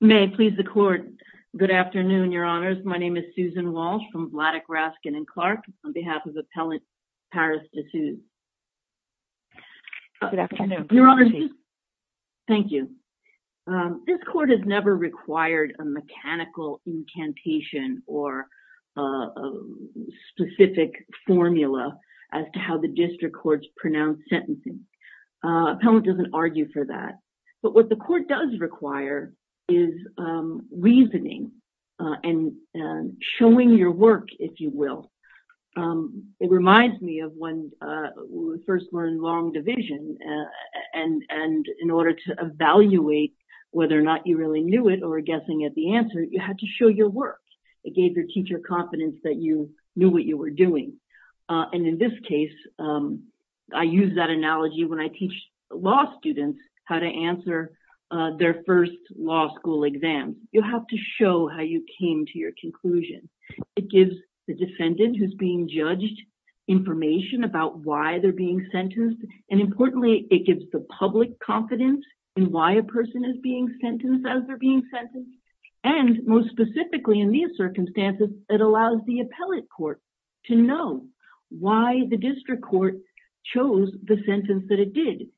May I please the court. Good afternoon your honors. My name is Susan Walsh from Vladeck, Raskin & Clark on behalf of the appellant Paris Desuze. Thank you. This court has never required a mechanical incantation or a specific formula as to how the district courts pronounce sentencing. Appellant doesn't argue for that. But what the court does require is reasoning and showing your work if you will. It reminds me of when we first learned long division and in order to evaluate whether or not you really knew it or guessing at the answer, you had to show your work. It gave your teacher confidence that you knew what you were doing. And in this case, I use that analogy when I teach law students how to answer their first law school exam. You have to show how you came to your conclusion. It gives the defendant who's being judged information about why they're being sentenced. And importantly, it gives the public confidence in why a person is being sentenced as they're being sentenced. And most specifically in these circumstances, it allows the appellate court to know why the district court chose the sentence that it did.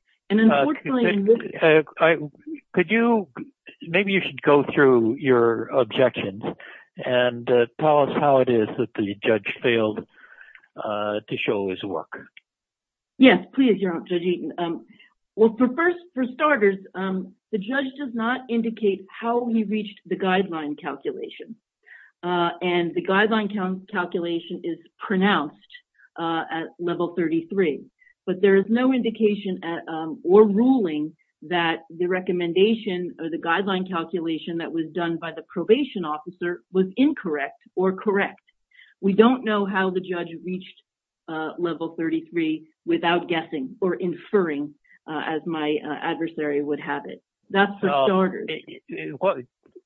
Maybe you should go through your objections and tell us how it is that the judge failed to show his work. Yes, please, Judge Eaton. Well, for starters, the judge does not indicate how he reached the guideline calculation. And the guideline calculation is pronounced at level 33. But there is no indication or ruling that the recommendation or the guideline calculation that was done by the probation officer was incorrect or correct. We don't know how the judge reached level 33 without guessing or inferring as my adversary would have it.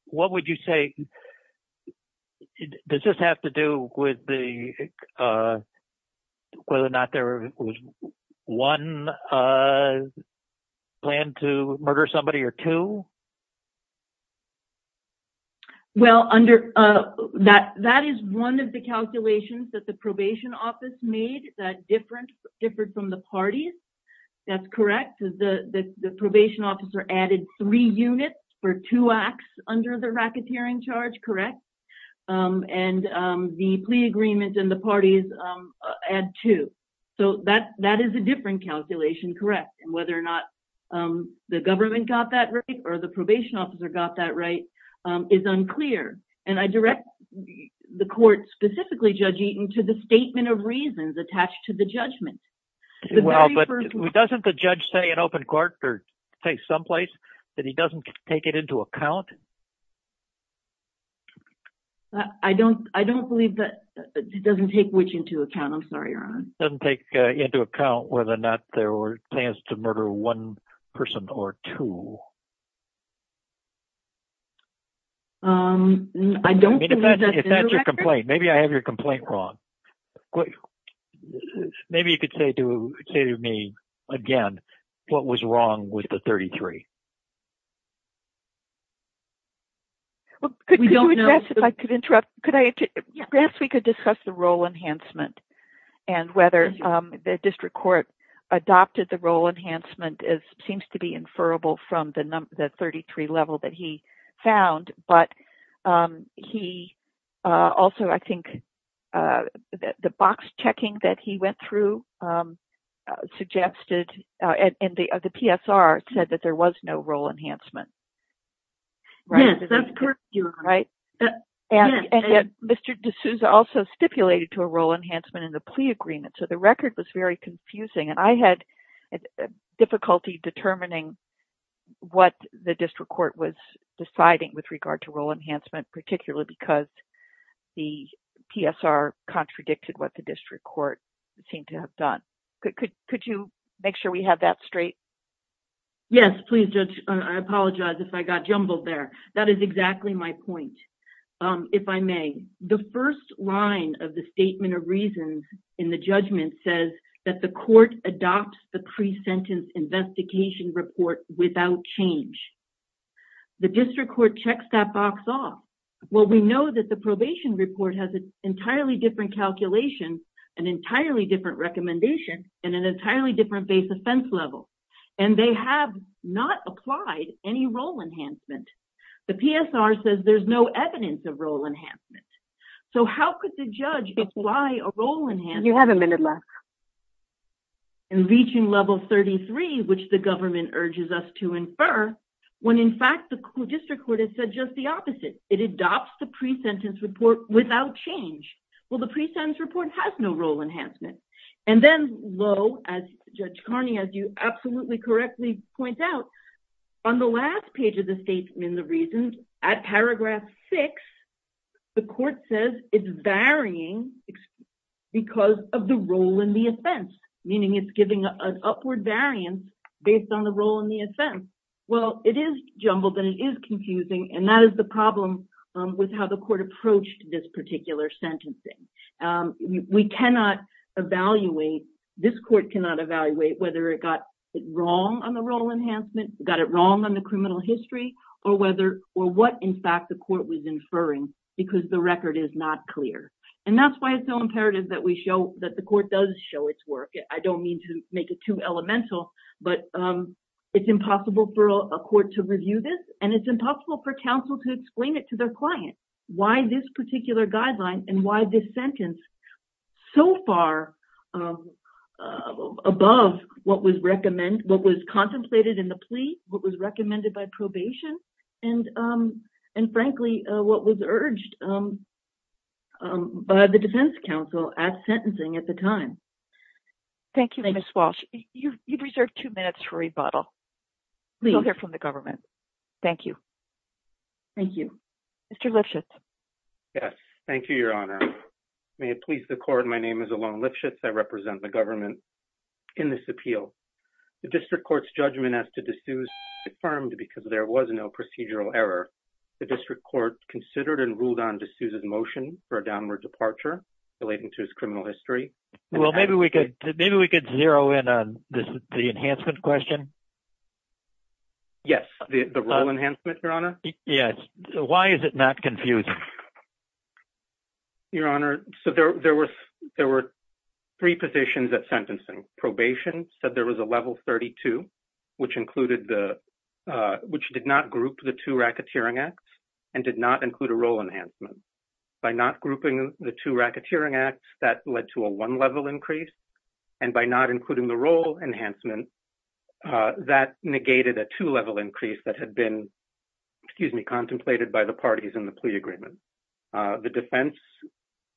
What would you say does this have to do with whether or not there was one plan to murder somebody or two? Well, that is one of the calculations that the probation office made that differed from the parties. That's correct. The probation officer added three units for two acts under the racketeering charge, correct? And the plea agreement and the parties add two. So that is a different calculation, correct? And whether or not the government got that right or the probation officer got that right is unclear. And I direct the court specifically, Judge Eaton, to the statement of reasons attached to the judgment. Well, but doesn't the judge say in open court or say someplace that he doesn't take it into account? I don't believe that he doesn't take which into account. I'm sorry, Your Honor. He doesn't take into account whether or not there were plans to murder one person or two. If that's your complaint, maybe I have your complaint wrong. Maybe you could say to me again what was wrong with the 33. Perhaps we could discuss the role enhancement and whether the district court adopted the role enhancement as seems to be inferrable from the 33 level that he found. But he also, I think, the box checking that he went through suggested and the PSR said that there was no role enhancement. Yes, that's correct, Your Honor. And Mr. D'Souza also stipulated to a role enhancement in the plea agreement. So the record was very confusing and I had difficulty determining what the district court was deciding with regard to role enhancement, particularly because the PSR contradicted what the district court seemed to have done. Could you make sure we have that straight? Yes, please, Judge. I apologize if I got jumbled there. That is exactly my point, if I may. The first line of the statement of reasons in the judgment says that the court adopts the pre-sentence investigation report without change. The district court checks that box off. Well, we know that the probation report has an entirely different calculation, an entirely different recommendation, and an entirely different base offense level. And they have not applied any role enhancement. The PSR says there's no evidence of role enhancement. So how could the judge apply a role enhancement? You have a minute left. And reaching level 33, which the government urges us to infer, when in fact the district court has said just the opposite. It adopts the pre-sentence report without change. Well, the pre-sentence report has no role enhancement. And then, though, as Judge Carney, as you absolutely correctly point out, on the last page of the statement of reasons, at paragraph 6, the court says it's varying because of the role in the offense, meaning it's giving an upward variance based on the role in the offense. Well, it is jumbled and it is confusing, and that is the problem with how the court approached this particular sentencing. We cannot evaluate, this court cannot evaluate whether it got it wrong on the role enhancement, got it wrong on the criminal history, or what in fact the court was inferring because the record is not clear. And that's why it's so imperative that we show that the court does show its work. I don't mean to make it too elemental, but it's impossible for a court to review this, and it's impossible for counsel to explain it to their client why this particular guideline and why this sentence so far above what was contemplated in the plea, what was recommended by probation, and frankly, what was urged by the defense counsel at sentencing at the time. Thank you, Ms. Walsh. You've reserved two minutes for rebuttal. Please. You'll hear from the government. Thank you. Thank you. Mr. Lifshitz. Thank you, Your Honor. May it please the court, my name is Elan Lifshitz. I represent the government in this appeal. The district court's judgment as to D'Souza was affirmed because there was no procedural error. The district court considered and ruled on D'Souza's motion for a downward departure relating to his criminal history. Well, maybe we could zero in on the enhancement question. Yes, the role enhancement, Your Honor. Yes. Why is it not confusing? Your Honor, so there were three positions at sentencing. Probation said there was a level 32, which did not group the two racketeering acts and did not include a role enhancement. By not grouping the two racketeering acts, that led to a one-level increase. And by not including the role enhancement, that negated a two-level increase that had been, excuse me, contemplated by the parties in the plea agreement. The defense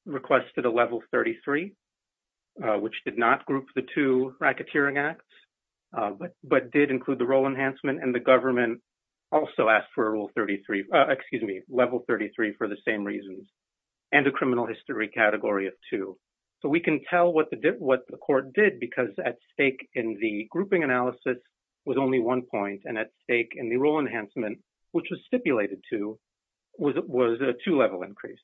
requested a level 33, which did not group the two racketeering acts, but did include the role enhancement. And the government also asked for a rule 33, excuse me, level 33 for the same reasons and a criminal history category of two. So we can tell what the court did because at stake in the grouping analysis was only one point. And at stake in the role enhancement, which was stipulated to, was a two-level increase.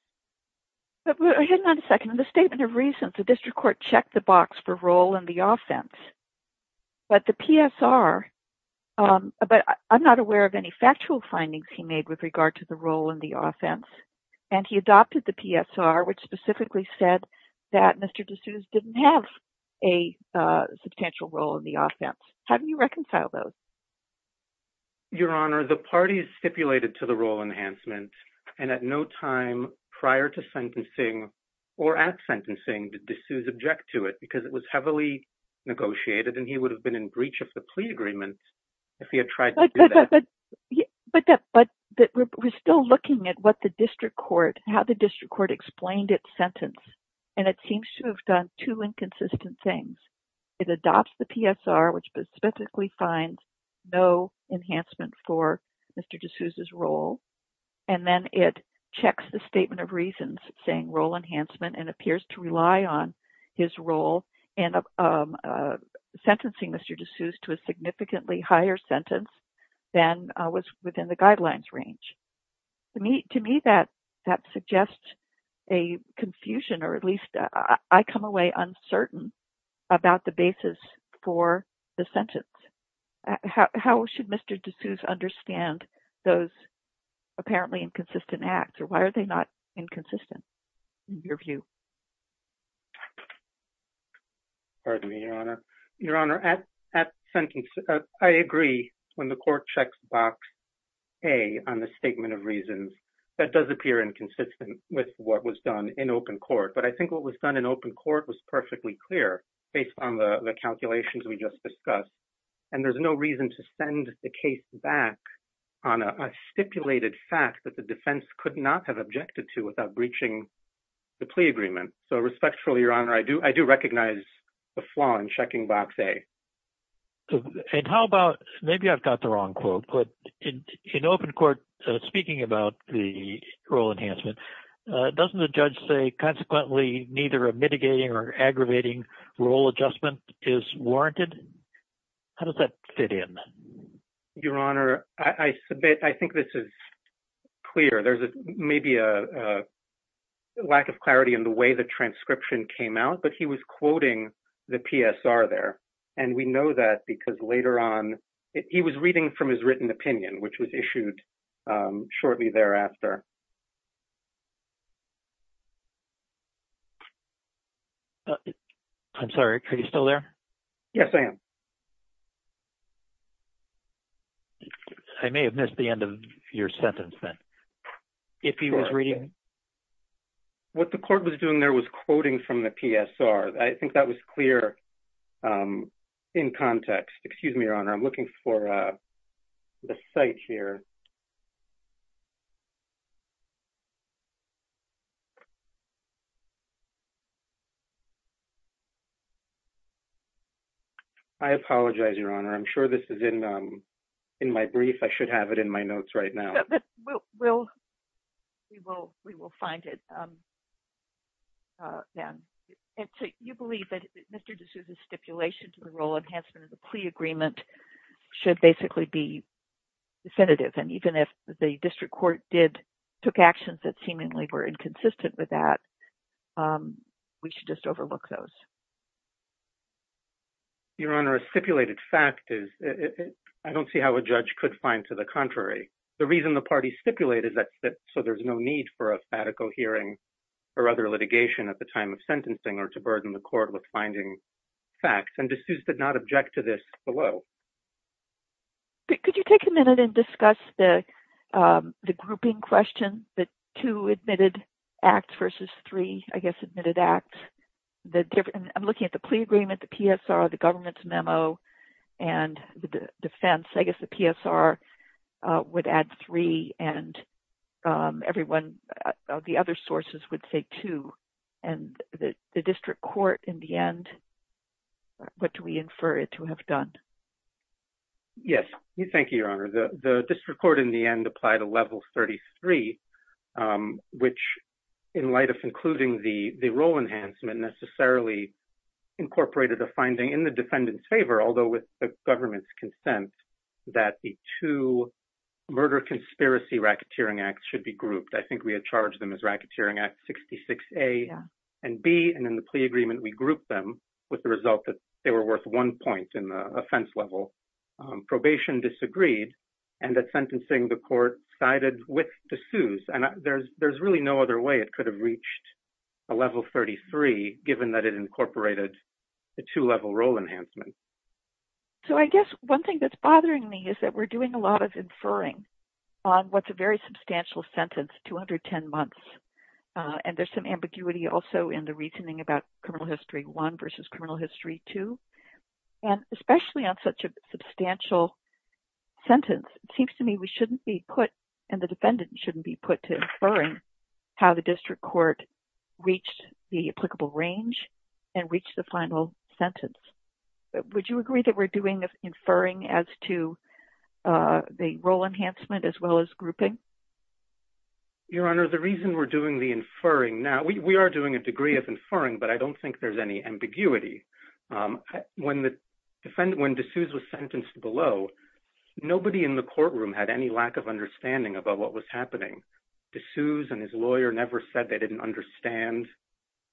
But hang on a second. In the statement of reasons, the district court checked the box for role in the offense. But the PSR, but I'm not aware of any factual findings he made with regard to the role in the offense. And he adopted the PSR, which specifically said that Mr. D'Souza didn't have a substantial role in the offense. How do you reconcile those? Your Honor, the parties stipulated to the role enhancement and at no time prior to sentencing or at sentencing, did D'Souza object to it because it was heavily negotiated and he would have been in breach of the plea agreement if he had tried to do that. But we're still looking at what the district court, how the district court explained its sentence. And it seems to have done two inconsistent things. It adopts the PSR, which specifically finds no enhancement for Mr. D'Souza's role. And then it checks the statement of reasons saying role enhancement and appears to rely on his role in sentencing Mr. D'Souza to a significantly higher sentence than was within the guidelines range. To me, that suggests a confusion or at least I come away uncertain about the basis for the sentence. How should Mr. D'Souza understand those apparently inconsistent acts or why are they not inconsistent in your view? Pardon me, Your Honor. Your Honor, at sentence, I agree when the court checks box A on the statement of reasons. That does appear inconsistent with what was done in open court. But I think what was done in open court was perfectly clear based on the calculations we just discussed. And there's no reason to send the case back on a stipulated fact that the defense could not have objected to without breaching the plea agreement. So respectfully, Your Honor, I do recognize the flaw in checking box A. And how about maybe I've got the wrong quote, but in open court, speaking about the role enhancement, doesn't the judge say consequently neither mitigating or aggravating role adjustment is warranted? How does that fit in? Your Honor, I submit I think this is clear. There's maybe a lack of clarity in the way the transcription came out, but he was quoting the PSR there. And we know that because later on he was reading from his written opinion, which was issued shortly thereafter. I'm sorry, are you still there? Yes, I am. I may have missed the end of your sentence then, if he was reading. What the court was doing there was quoting from the PSR. I think that was clear in context. Excuse me, Your Honor. I'm looking for the site here. I apologize, Your Honor. I'm sure this is in my brief. I should have it in my notes right now. We will find it then. You believe that Mr. D'Souza's stipulation to the role enhancement of the plea agreement should basically be definitive. And even if the district court took actions that seemingly were inconsistent with that, we should just overlook those. Your Honor, a stipulated fact is I don't see how a judge could find to the contrary. The reason the party stipulated that so there's no need for a statical hearing or other litigation at the time of sentencing or to burden the court with finding facts. And D'Souza did not object to this below. Could you take a minute and discuss the grouping question, the two admitted acts versus three, I guess, admitted acts? I'm looking at the plea agreement, the PSR, the government's memo, and the defense. I guess the PSR would add three and everyone, the other sources would say two. And the district court in the end, what do we infer it to have done? Thank you, Your Honor. The district court in the end applied a level 33, which in light of including the role enhancement necessarily incorporated a finding in the defendant's favor. Although with the government's consent that the two murder conspiracy racketeering acts should be grouped. I think we had charged them as racketeering at 66A and B. And in the plea agreement, we grouped them with the result that they were worth one point in the offense level. Probation disagreed and that sentencing the court sided with D'Souza. And there's really no other way it could have reached a level 33, given that it incorporated the two level role enhancement. So I guess one thing that's bothering me is that we're doing a lot of inferring on what's a very substantial sentence, 210 months. And there's some ambiguity also in the reasoning about criminal history one versus criminal history two. And especially on such a substantial sentence, it seems to me we shouldn't be put and the defendant shouldn't be put to inferring how the district court reached the applicable range and reach the final sentence. Would you agree that we're doing the inferring as to the role enhancement as well as grouping? Your Honor, the reason we're doing the inferring now, we are doing a degree of inferring, but I don't think there's any ambiguity. When D'Souza was sentenced below, nobody in the courtroom had any lack of understanding about what was happening. D'Souza and his lawyer never said they didn't understand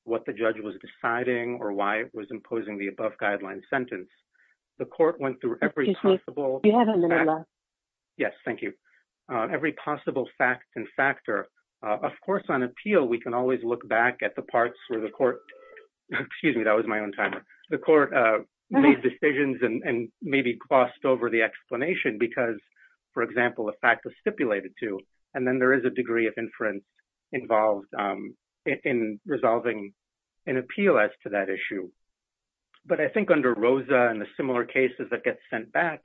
what the judge was deciding or why it was imposing the above guideline sentence. The court went through every possible... Excuse me, you have a minute left. Yes, thank you. Every possible fact and factor. Of course, on appeal, we can always look back at the parts where the court... Excuse me, that was my own timer. The court made decisions and maybe glossed over the explanation because, for example, a fact was stipulated to. And then there is a degree of inference involved in resolving an appeal as to that issue. But I think under Rosa and the similar cases that get sent back,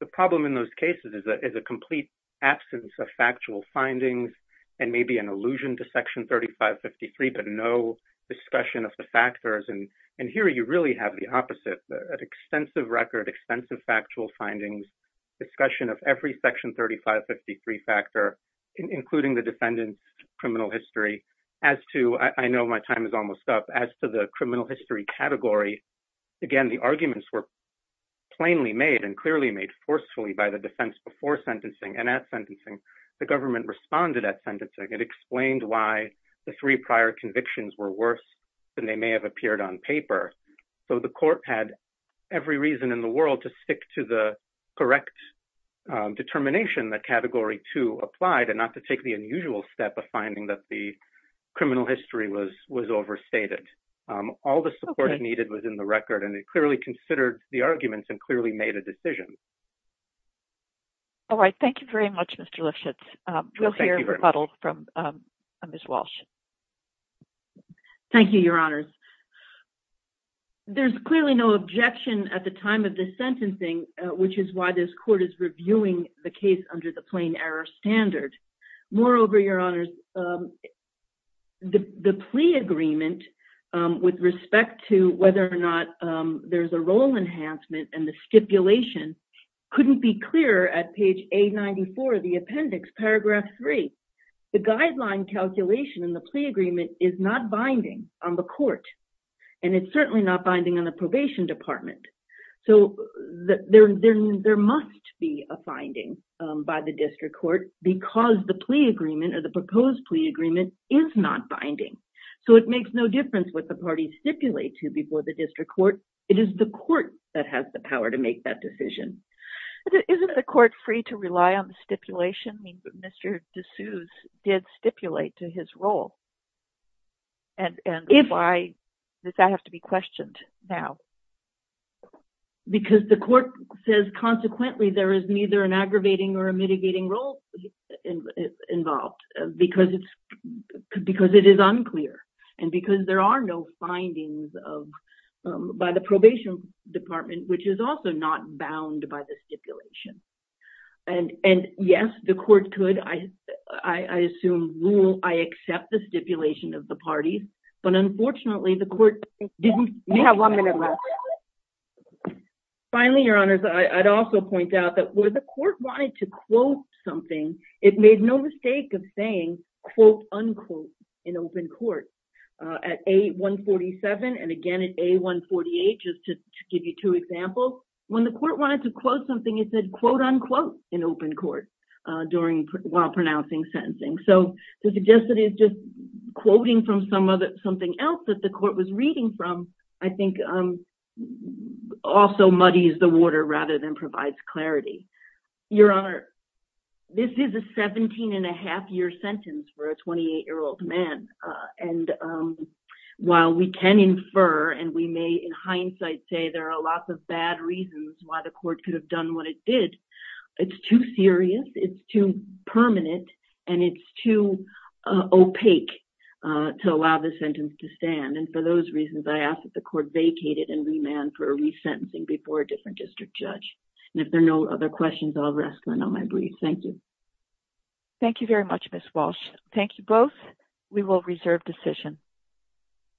the problem in those cases is a complete absence of factual findings and maybe an allusion to Section 3553, but no discussion of the factors. And here you really have the opposite, an extensive record, extensive factual findings, discussion of every Section 3553 factor, including the defendant's criminal history. I know my time is almost up. As to the criminal history category, again, the arguments were plainly made and clearly made forcefully by the defense before sentencing and at sentencing. The government responded at sentencing. It explained why the three prior convictions were worse than they may have appeared on paper. So the court had every reason in the world to stick to the correct determination that Category 2 applied and not to take the unusual step of finding that the criminal history was overstated. All the support needed was in the record, and it clearly considered the arguments and clearly made a decision. All right. Thank you very much, Mr. Lifshitz. We'll hear a rebuttal from Ms. Walsh. Thank you, Your Honors. There's clearly no objection at the time of the sentencing, which is why this court is reviewing the case under the plain error standard. Moreover, Your Honors, the plea agreement with respect to whether or not there's a role enhancement and the stipulation couldn't be clearer at page A94 of the appendix, paragraph 3. The guideline calculation in the plea agreement is not binding on the court, and it's certainly not binding on the probation department. So there must be a finding by the district court because the plea agreement or the proposed plea agreement is not binding. So it makes no difference what the parties stipulate to before the district court. It is the court that has the power to make that decision. Isn't the court free to rely on the stipulation? I mean, Mr. D'Souza did stipulate to his role. And why does that have to be questioned now? Because the court says consequently there is neither an aggravating or a mitigating role involved because it is unclear and because there are no findings by the probation department, which is also not bound by the stipulation. And yes, the court could, I assume, rule I accept the stipulation of the parties. But unfortunately, the court didn't. We have one minute left. Finally, Your Honors, I'd also point out that where the court wanted to quote something, it made no mistake of saying, quote, unquote, in open court. At A147 and, again, at A148, just to give you two examples, when the court wanted to quote something, it said, quote, unquote, in open court while pronouncing sentencing. So the suggestion is just quoting from something else that the court was reading from, I think, also muddies the water rather than provides clarity. Your Honor, this is a 17-and-a-half-year sentence for a 28-year-old man. And while we can infer and we may, in hindsight, say there are lots of bad reasons why the court could have done what it did, it's too serious, it's too permanent, and it's too opaque to allow the sentence to stand. And for those reasons, I ask that the court vacate it and remand for resentencing before a different district judge. And if there are no other questions, I'll rest on my brief. Thank you. Thank you very much, Ms. Walsh. Thank you both. We will reserve decision.